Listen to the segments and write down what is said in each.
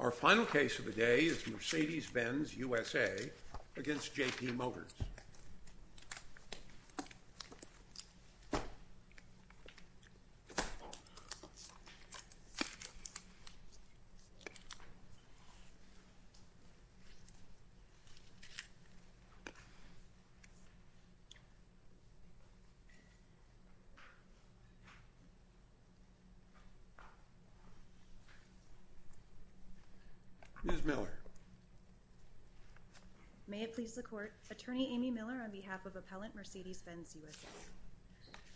Our final case of the day is Mercedes-Benz USA v. JP Motors.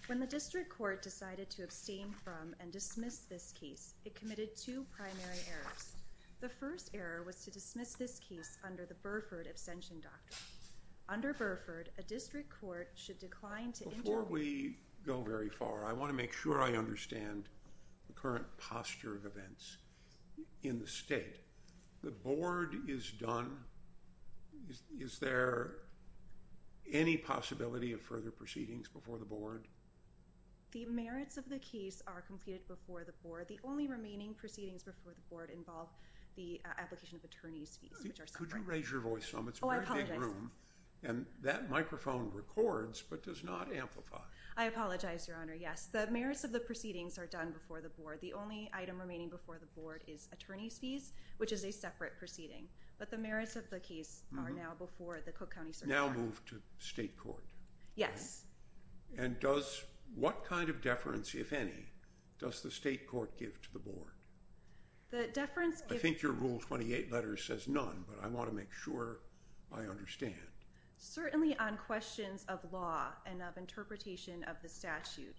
When the District Court decided to abstain from and dismiss this case, it committed two primary errors. The first error was to dismiss this case under the Burford abstention doctrine. Under Burford, a District Court should decline to inter- underpin the burden that the Department of Health and Human Services shall have on this Before we go very far, I want to make sure I understand the current posture of events in the state. The board is done. Is there any possibility of further proceedings before the board? The merits of the case are completed before the board. The only remaining proceedings before the board involve the application of attorney's fees. Could you raise your voice some? It's a very big room. And that microphone records but does not amplify. I apologize, Your Honor. Yes, the merits of the proceedings are done before the board. The only item remaining before the board is attorney's fees, which is a separate proceeding. But the merits of the case are now before the Cook County Circuit Court. Now moved to state court. Yes. And what kind of deference, if any, does the state court give to the board? I think your Rule 28 letter says none, but I want to make sure I understand. Certainly on questions of law and of interpretation of the statute.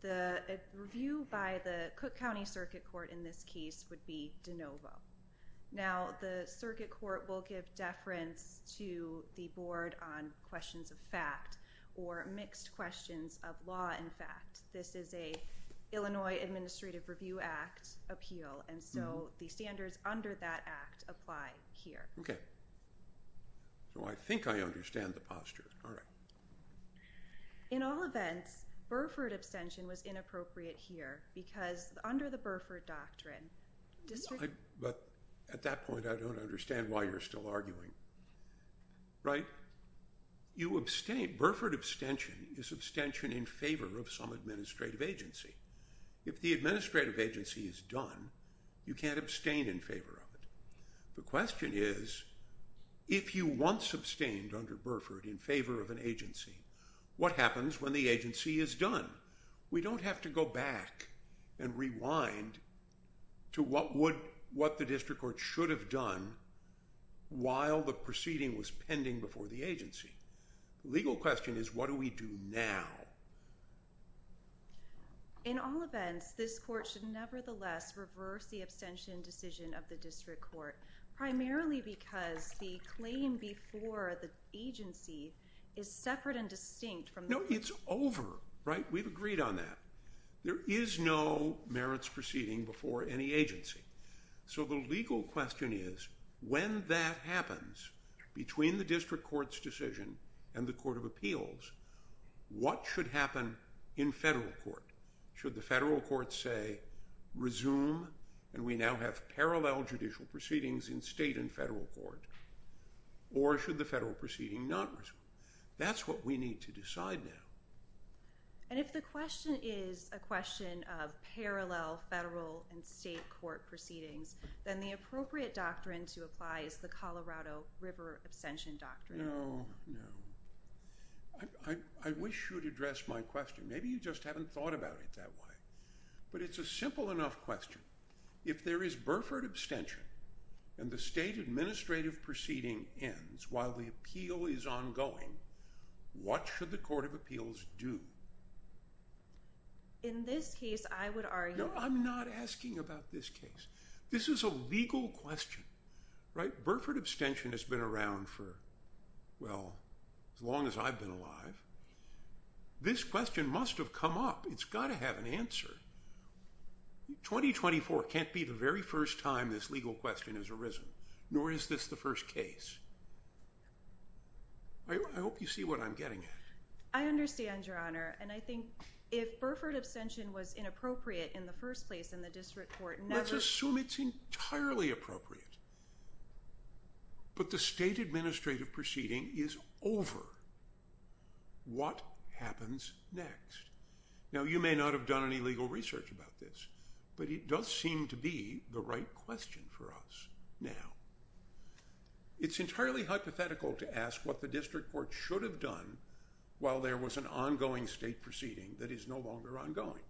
The review by the Cook County Circuit Court in this case would be de novo. Now, the circuit court will give deference to the board on questions of fact or mixed questions of law. In fact, this is a Illinois Administrative Review Act appeal. And so the standards under that act apply here. OK. So I think I understand the posture. All right. In all events, Burford abstention was inappropriate here because under the Burford doctrine district. But at that point, I don't understand why you're still arguing. Right. You abstain. Burford abstention is abstention in favor of some administrative agency. If the administrative agency is done, you can't abstain in favor of it. The question is, if you want sustained under Burford in favor of an agency, what happens when the agency is done? We don't have to go back and rewind to what would what the district court should have done while the proceeding was pending before the agency. Legal question is, what do we do now? In all events, this court should nevertheless reverse the abstention decision of the district court, primarily because the claim before the agency is separate and distinct from. No, it's over. Right. We've agreed on that. There is no merits proceeding before any agency. So the legal question is, when that happens between the district court's decision and the court of appeals, what should happen in federal court? Should the federal court say resume? And we now have parallel judicial proceedings in state and federal court. Or should the federal proceeding not? That's what we need to decide now. And if the question is a question of parallel federal and state court proceedings, then the appropriate doctrine to apply is the Colorado River abstention doctrine. No, no. I wish you would address my question. Maybe you just haven't thought about it that way. But it's a simple enough question. If there is Burford abstention and the state administrative proceeding ends while the appeal is ongoing, what should the court of appeals do? In this case, I would argue I'm not asking about this case. This is a legal question. Right. Burford abstention has been around for, well, as long as I've been alive. This question must have come up. It's got to have an answer. 2024 can't be the very first time this legal question has arisen, nor is this the first case. I hope you see what I'm getting at. I understand, Your Honor. And I think if Burford abstention was inappropriate in the first place in the district court, let's assume it's entirely appropriate. But the state administrative proceeding is over. What happens next? Now, you may not have done any legal research about this, but it does seem to be the right question for us now. It's entirely hypothetical to ask what the district court should have done while there was an ongoing state proceeding that is no longer ongoing.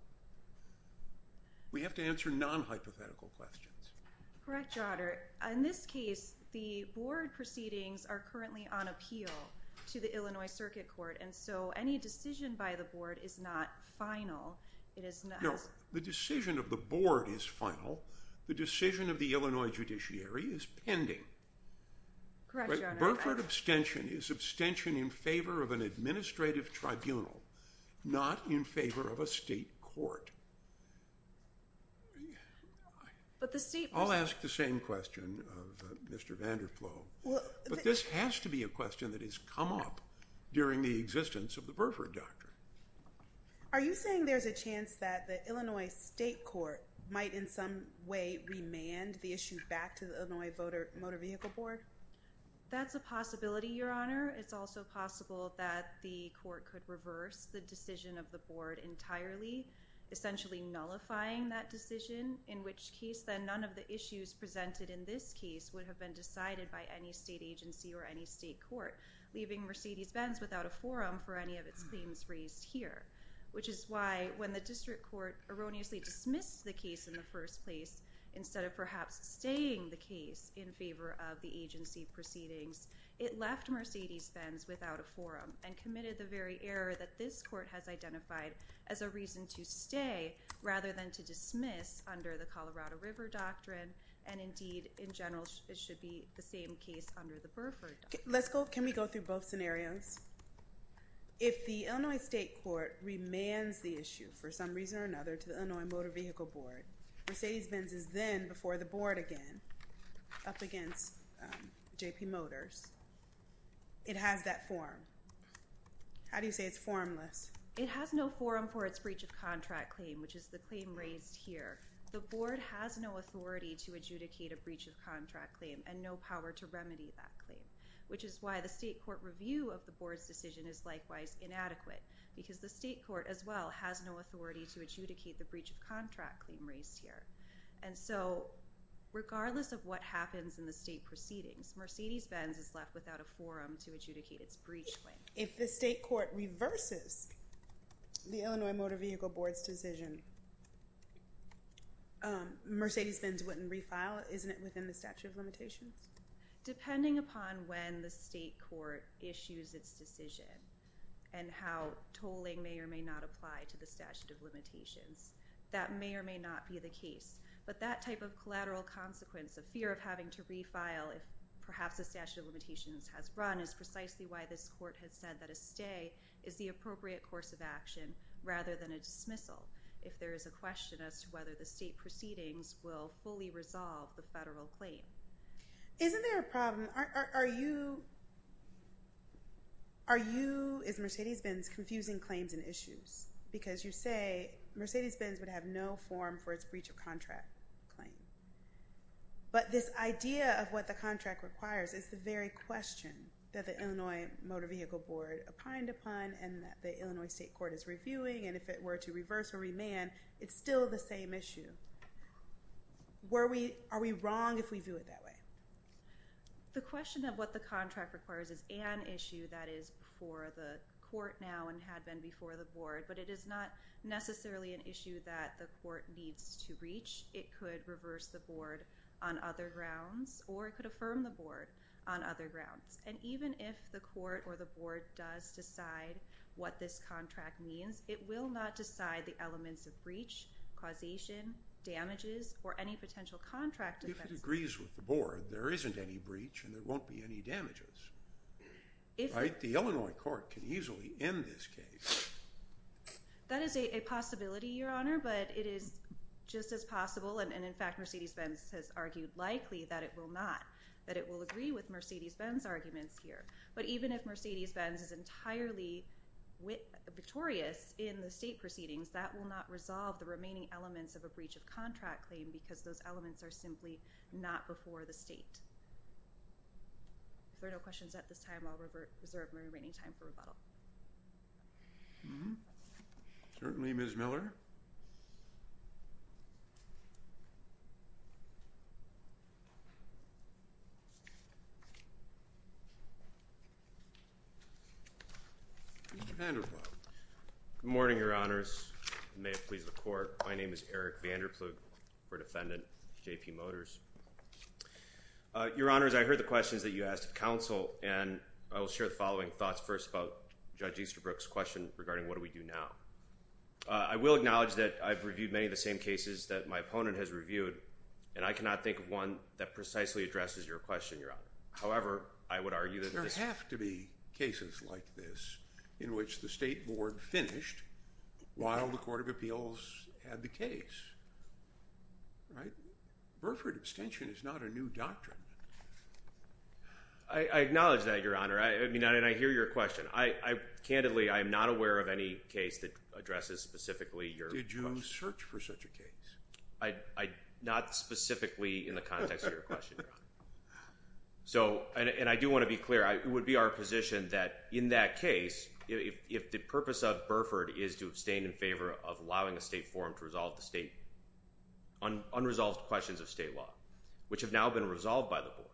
We have to answer non-hypothetical questions. Correct, Your Honor. In this case, the board proceedings are currently on appeal to the Illinois Circuit Court. And so any decision by the board is not final. The decision of the board is final. The decision of the Illinois judiciary is pending. Correct, Your Honor. Burford abstention is abstention in favor of an administrative tribunal, not in favor of a state court. I'll ask the same question of Mr. Vander Ploof. But this has to be a question that has come up during the existence of the Burford doctrine. Are you saying there's a chance that the Illinois state court might in some way remand the issue back to the Illinois Motor Vehicle Board? That's a possibility, Your Honor. It's also possible that the court could reverse the decision of the board entirely, essentially nullifying that decision, in which case then none of the issues presented in this case would have been decided by any state agency or any state court, leaving Mercedes-Benz without a forum for any of its claims raised here. Which is why when the district court erroneously dismissed the case in the first place, instead of perhaps staying the case in favor of the agency proceedings, it left Mercedes-Benz without a forum and committed the very error that this court has identified as a reason to stay rather than to dismiss under the Colorado River doctrine. And indeed, in general, it should be the same case under the Burford doctrine. Can we go through both scenarios? If the Illinois state court remands the issue for some reason or another to the Illinois Motor Vehicle Board, Mercedes-Benz is then before the board again up against J.P. Motors. It has that forum. How do you say it's formless? It has no forum for its breach of contract claim, which is the claim raised here. The board has no authority to adjudicate a breach of contract claim and no power to remedy that claim, which is why the state court review of the board's decision is likewise inadequate, because the state court as well has no authority to adjudicate the breach of contract claim raised here. And so regardless of what happens in the state proceedings, Mercedes-Benz is left without a forum to adjudicate its breach claim. If the state court reverses the Illinois Motor Vehicle Board's decision, Mercedes-Benz wouldn't refile, isn't it, within the statute of limitations? Depending upon when the state court issues its decision and how tolling may or may not apply to the statute of limitations, that may or may not be the case. But that type of collateral consequence of fear of having to refile if perhaps the statute of limitations has run is precisely why this court has said that a stay is the appropriate course of action rather than a dismissal if there is a question as to whether the state proceedings will fully resolve the federal claim. Isn't there a problem? Are you, is Mercedes-Benz confusing claims and issues? Because you say Mercedes-Benz would have no forum for its breach of contract claim. But this idea of what the contract requires is the very question that the Illinois Motor Vehicle Board opined upon and that the Illinois state court is reviewing and if it were to reverse or remand, it's still the same issue. Are we wrong if we view it that way? The question of what the contract requires is an issue that is before the court now and had been before the board, but it is not necessarily an issue that the court needs to reach. It could reverse the board on other grounds or it could affirm the board on other grounds. And even if the court or the board does decide what this contract means, it will not decide the elements of breach, causation, damages, or any potential contract defense. If it agrees with the board, there isn't any breach and there won't be any damages. The Illinois court can easily end this case. That is a possibility, Your Honor, but it is just as possible, and in fact Mercedes-Benz has argued likely that it will not, that it will agree with Mercedes-Benz arguments here. But even if Mercedes-Benz is entirely victorious in the state proceedings, that will not resolve the remaining elements of a breach of contract claim because those elements are simply not before the state. If there are no questions at this time, I will reserve my remaining time for rebuttal. Certainly, Ms. Miller. Mr. Vander Plough. Good morning, Your Honors, and may it please the court. My name is Eric Vander Plough for Defendant J.P. Motors. Your Honors, I heard the questions that you asked of counsel, and I will share the following thoughts first about Judge Easterbrook's question regarding what do we do now. I will acknowledge that I've reviewed many of the same cases that my opponent has reviewed, and I cannot think of one that precisely addresses your question, Your Honor. However, I would argue that this… There have to be cases like this in which the state board finished while the court of appeals had the case. Burford abstention is not a new doctrine. I acknowledge that, Your Honor, and I hear your question. Candidly, I am not aware of any case that addresses specifically your question. Did you search for such a case? Not specifically in the context of your question, Your Honor. And I do want to be clear. It would be our position that in that case, if the purpose of Burford is to abstain in favor of allowing a state forum to resolve the state unresolved questions of state law, which have now been resolved by the board,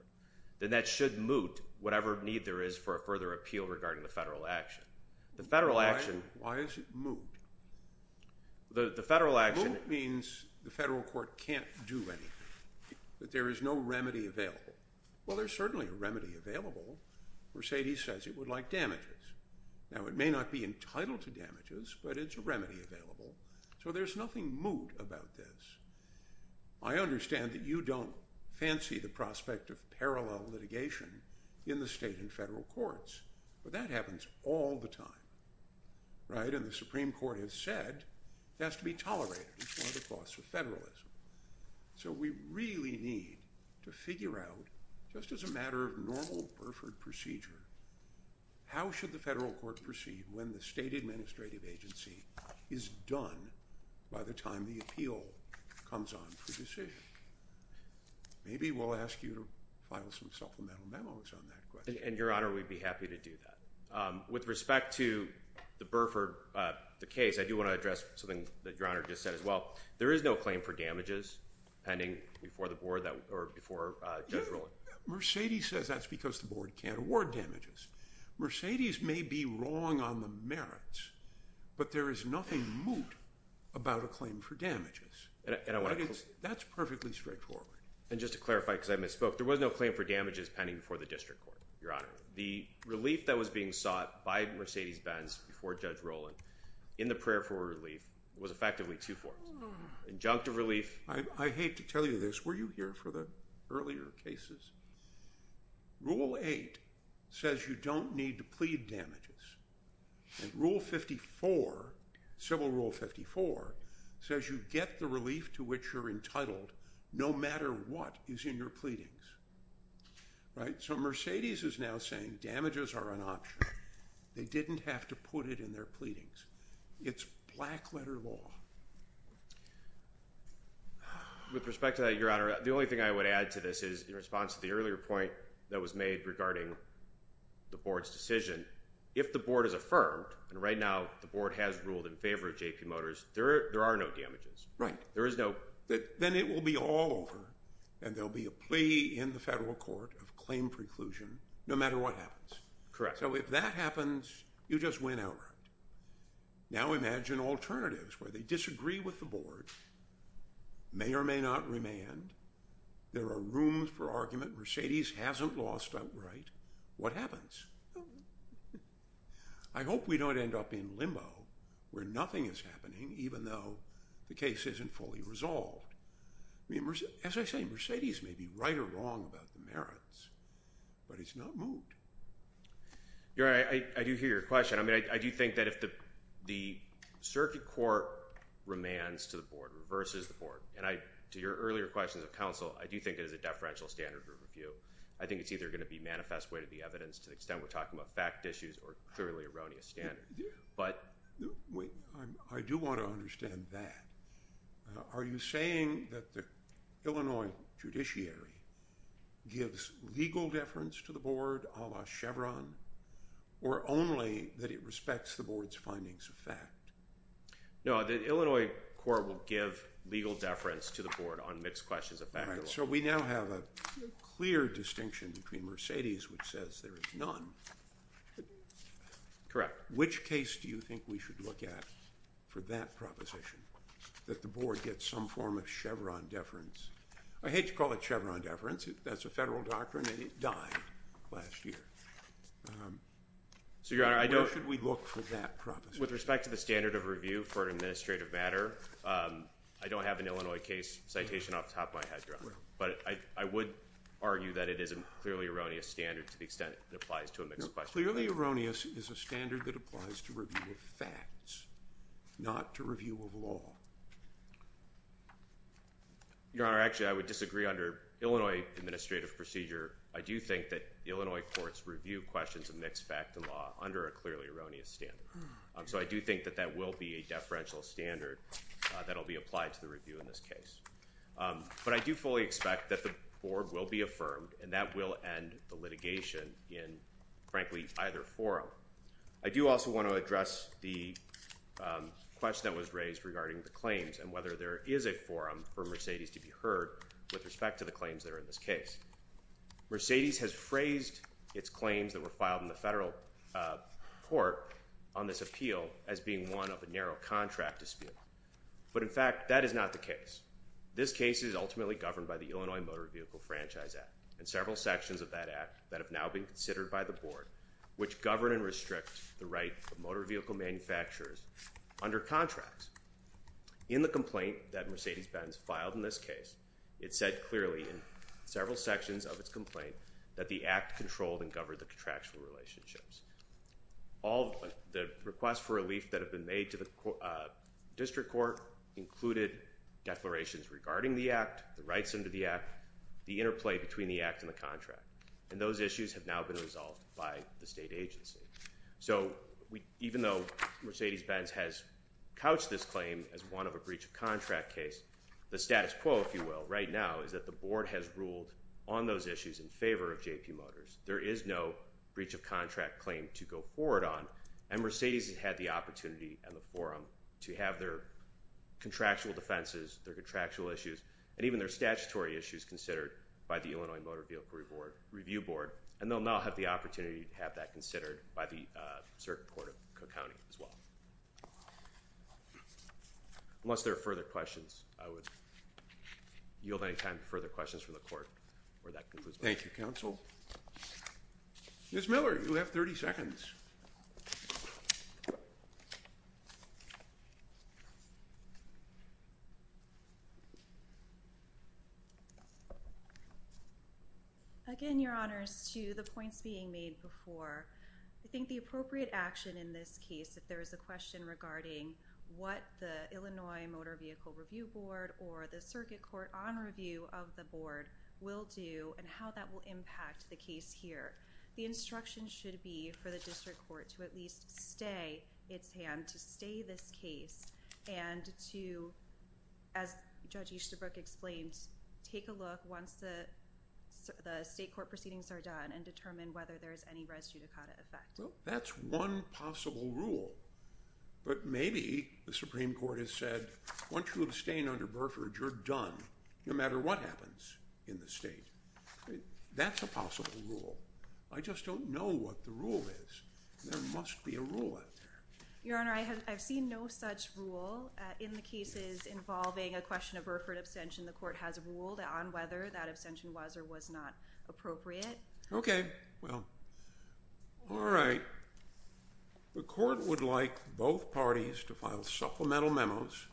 then that should moot whatever need there is for a further appeal regarding the federal action. The federal action… Why is it moot? The federal action… Moot means the federal court can't do anything, that there is no remedy available. Well, there's certainly a remedy available. Mercedes says it would like damages. Now, it may not be entitled to damages, but it's a remedy available. So there's nothing moot about this. I understand that you don't fancy the prospect of parallel litigation in the state and federal courts. But that happens all the time. Right? And the Supreme Court has said it has to be tolerated. It's one of the costs of federalism. So we really need to figure out, just as a matter of normal Burford procedure, how should the federal court proceed when the state administrative agency is done by the time the appeal comes on for decision? Maybe we'll ask you to file some supplemental memos on that question. And, Your Honor, we'd be happy to do that. With respect to the Burford case, I do want to address something that Your Honor just said as well. There is no claim for damages pending before the board or before Judge Roland. Mercedes says that's because the board can't award damages. Mercedes may be wrong on the merits, but there is nothing moot about a claim for damages. That's perfectly straightforward. And just to clarify, because I misspoke, there was no claim for damages pending before the district court, Your Honor. The relief that was being sought by Mercedes Benz before Judge Roland in the prayer for relief was effectively two forms. Injunctive relief. I hate to tell you this. Were you here for the earlier cases? Rule 8 says you don't need to plead damages. And Rule 54, Civil Rule 54, says you get the relief to which you're entitled no matter what is in your pleadings. Right? So Mercedes is now saying damages are an option. They didn't have to put it in their pleadings. It's black letter law. With respect to that, Your Honor, the only thing I would add to this is in response to the earlier point that was made regarding the board's decision, if the board is affirmed, and right now the board has ruled in favor of J.P. Motors, there are no damages. Right. There is no. Then it will be all over, and there will be a plea in the federal court of claim preclusion no matter what happens. Correct. So if that happens, you just win outright. Now imagine alternatives where they disagree with the board, may or may not remand. There are rooms for argument. Mercedes hasn't lost outright. What happens? I hope we don't end up in limbo where nothing is happening even though the case isn't fully resolved. As I say, Mercedes may be right or wrong about the merits, but it's not moved. Your Honor, I do hear your question. I mean I do think that if the circuit court remands to the board, reverses the board, and to your earlier questions of counsel, I do think it is a deferential standard group review. I think it's either going to be manifest way to the evidence to the extent we're talking about fact issues or clearly erroneous standards. I do want to understand that. Are you saying that the Illinois judiciary gives legal deference to the board a la Chevron or only that it respects the board's findings of fact? No, the Illinois court will give legal deference to the board on mixed questions of fact. So we now have a clear distinction between Mercedes, which says there is none. Correct. Which case do you think we should look at for that proposition that the board gets some form of Chevron deference? I hate to call it Chevron deference. That's a federal doctrine, and it died last year. So, Your Honor, I don't. Where should we look for that proposition? With respect to the standard of review for an administrative matter, I don't have an Illinois case citation off the top of my head, Your Honor. But I would argue that it is a clearly erroneous standard to the extent it applies to a mixed question. Clearly erroneous is a standard that applies to review of facts, not to review of law. Your Honor, actually, I would disagree. Under Illinois administrative procedure, I do think that Illinois courts review questions of mixed fact and law under a clearly erroneous standard. So I do think that that will be a deferential standard that will be applied to the review in this case. But I do fully expect that the board will be affirmed, and that will end the litigation in, frankly, either forum. I do also want to address the question that was raised regarding the claims and whether there is a forum for Mercedes to be heard with respect to the claims that are in this case. Mercedes has phrased its claims that were filed in the federal court on this appeal as being one of a narrow contract dispute. But, in fact, that is not the case. This case is ultimately governed by the Illinois Motor Vehicle Franchise Act, and several sections of that act that have now been considered by the board, which govern and restrict the right of motor vehicle manufacturers under contracts. In the complaint that Mercedes-Benz filed in this case, it said clearly in several sections of its complaint that the act controlled and governed the contractual relationships. All the requests for relief that have been made to the district court included declarations regarding the act, the rights under the act, the interplay between the act and the contract. And those issues have now been resolved by the state agency. So even though Mercedes-Benz has couched this claim as one of a breach of contract case, the status quo, if you will, right now, is that the board has ruled on those issues in favor of J.P. Motors. There is no breach of contract claim to go forward on. And Mercedes has had the opportunity in the forum to have their contractual defenses, their contractual issues, and even their statutory issues considered by the Illinois Motor Vehicle Review Board. And they'll now have the opportunity to have that considered by the circuit court of Cook County as well. Unless there are further questions, I would yield any time to further questions from the court where that concludes. Thank you, counsel. Ms. Miller, you have 30 seconds. Again, Your Honors, to the points being made before, I think the appropriate action in this case, if there is a question regarding what the Illinois Motor Vehicle Review Board or the circuit court on review of the board will do and how that will impact the case here, the instruction should be for the district court to at least stay its hand to stay this case and to, as Judge Easterbrook explained, take a look once the state court proceedings are done and determine whether there is any res judicata effect. Well, that's one possible rule. But maybe the Supreme Court has said, once you abstain under Burford, you're done, no matter what happens in the state. That's a possible rule. I just don't know what the rule is. There must be a rule out there. Your Honor, I have seen no such rule in the cases involving a question of Burford abstention. The court has ruled on whether that abstention was or was not appropriate. Okay. Well, all right. The court would like both parties to file supplemental memos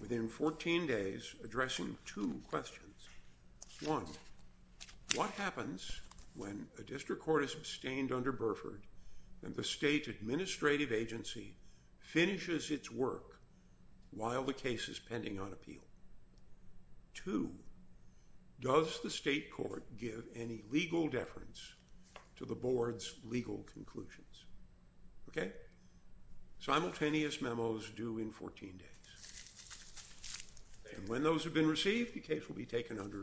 within 14 days addressing two questions. One, what happens when a district court is abstained under Burford and the state administrative agency finishes its work while the case is pending on appeal? Two, does the state court give any legal deference to the board's legal conclusions? Okay. Simultaneous memos due in 14 days. And when those have been received, the case will be taken under advisement.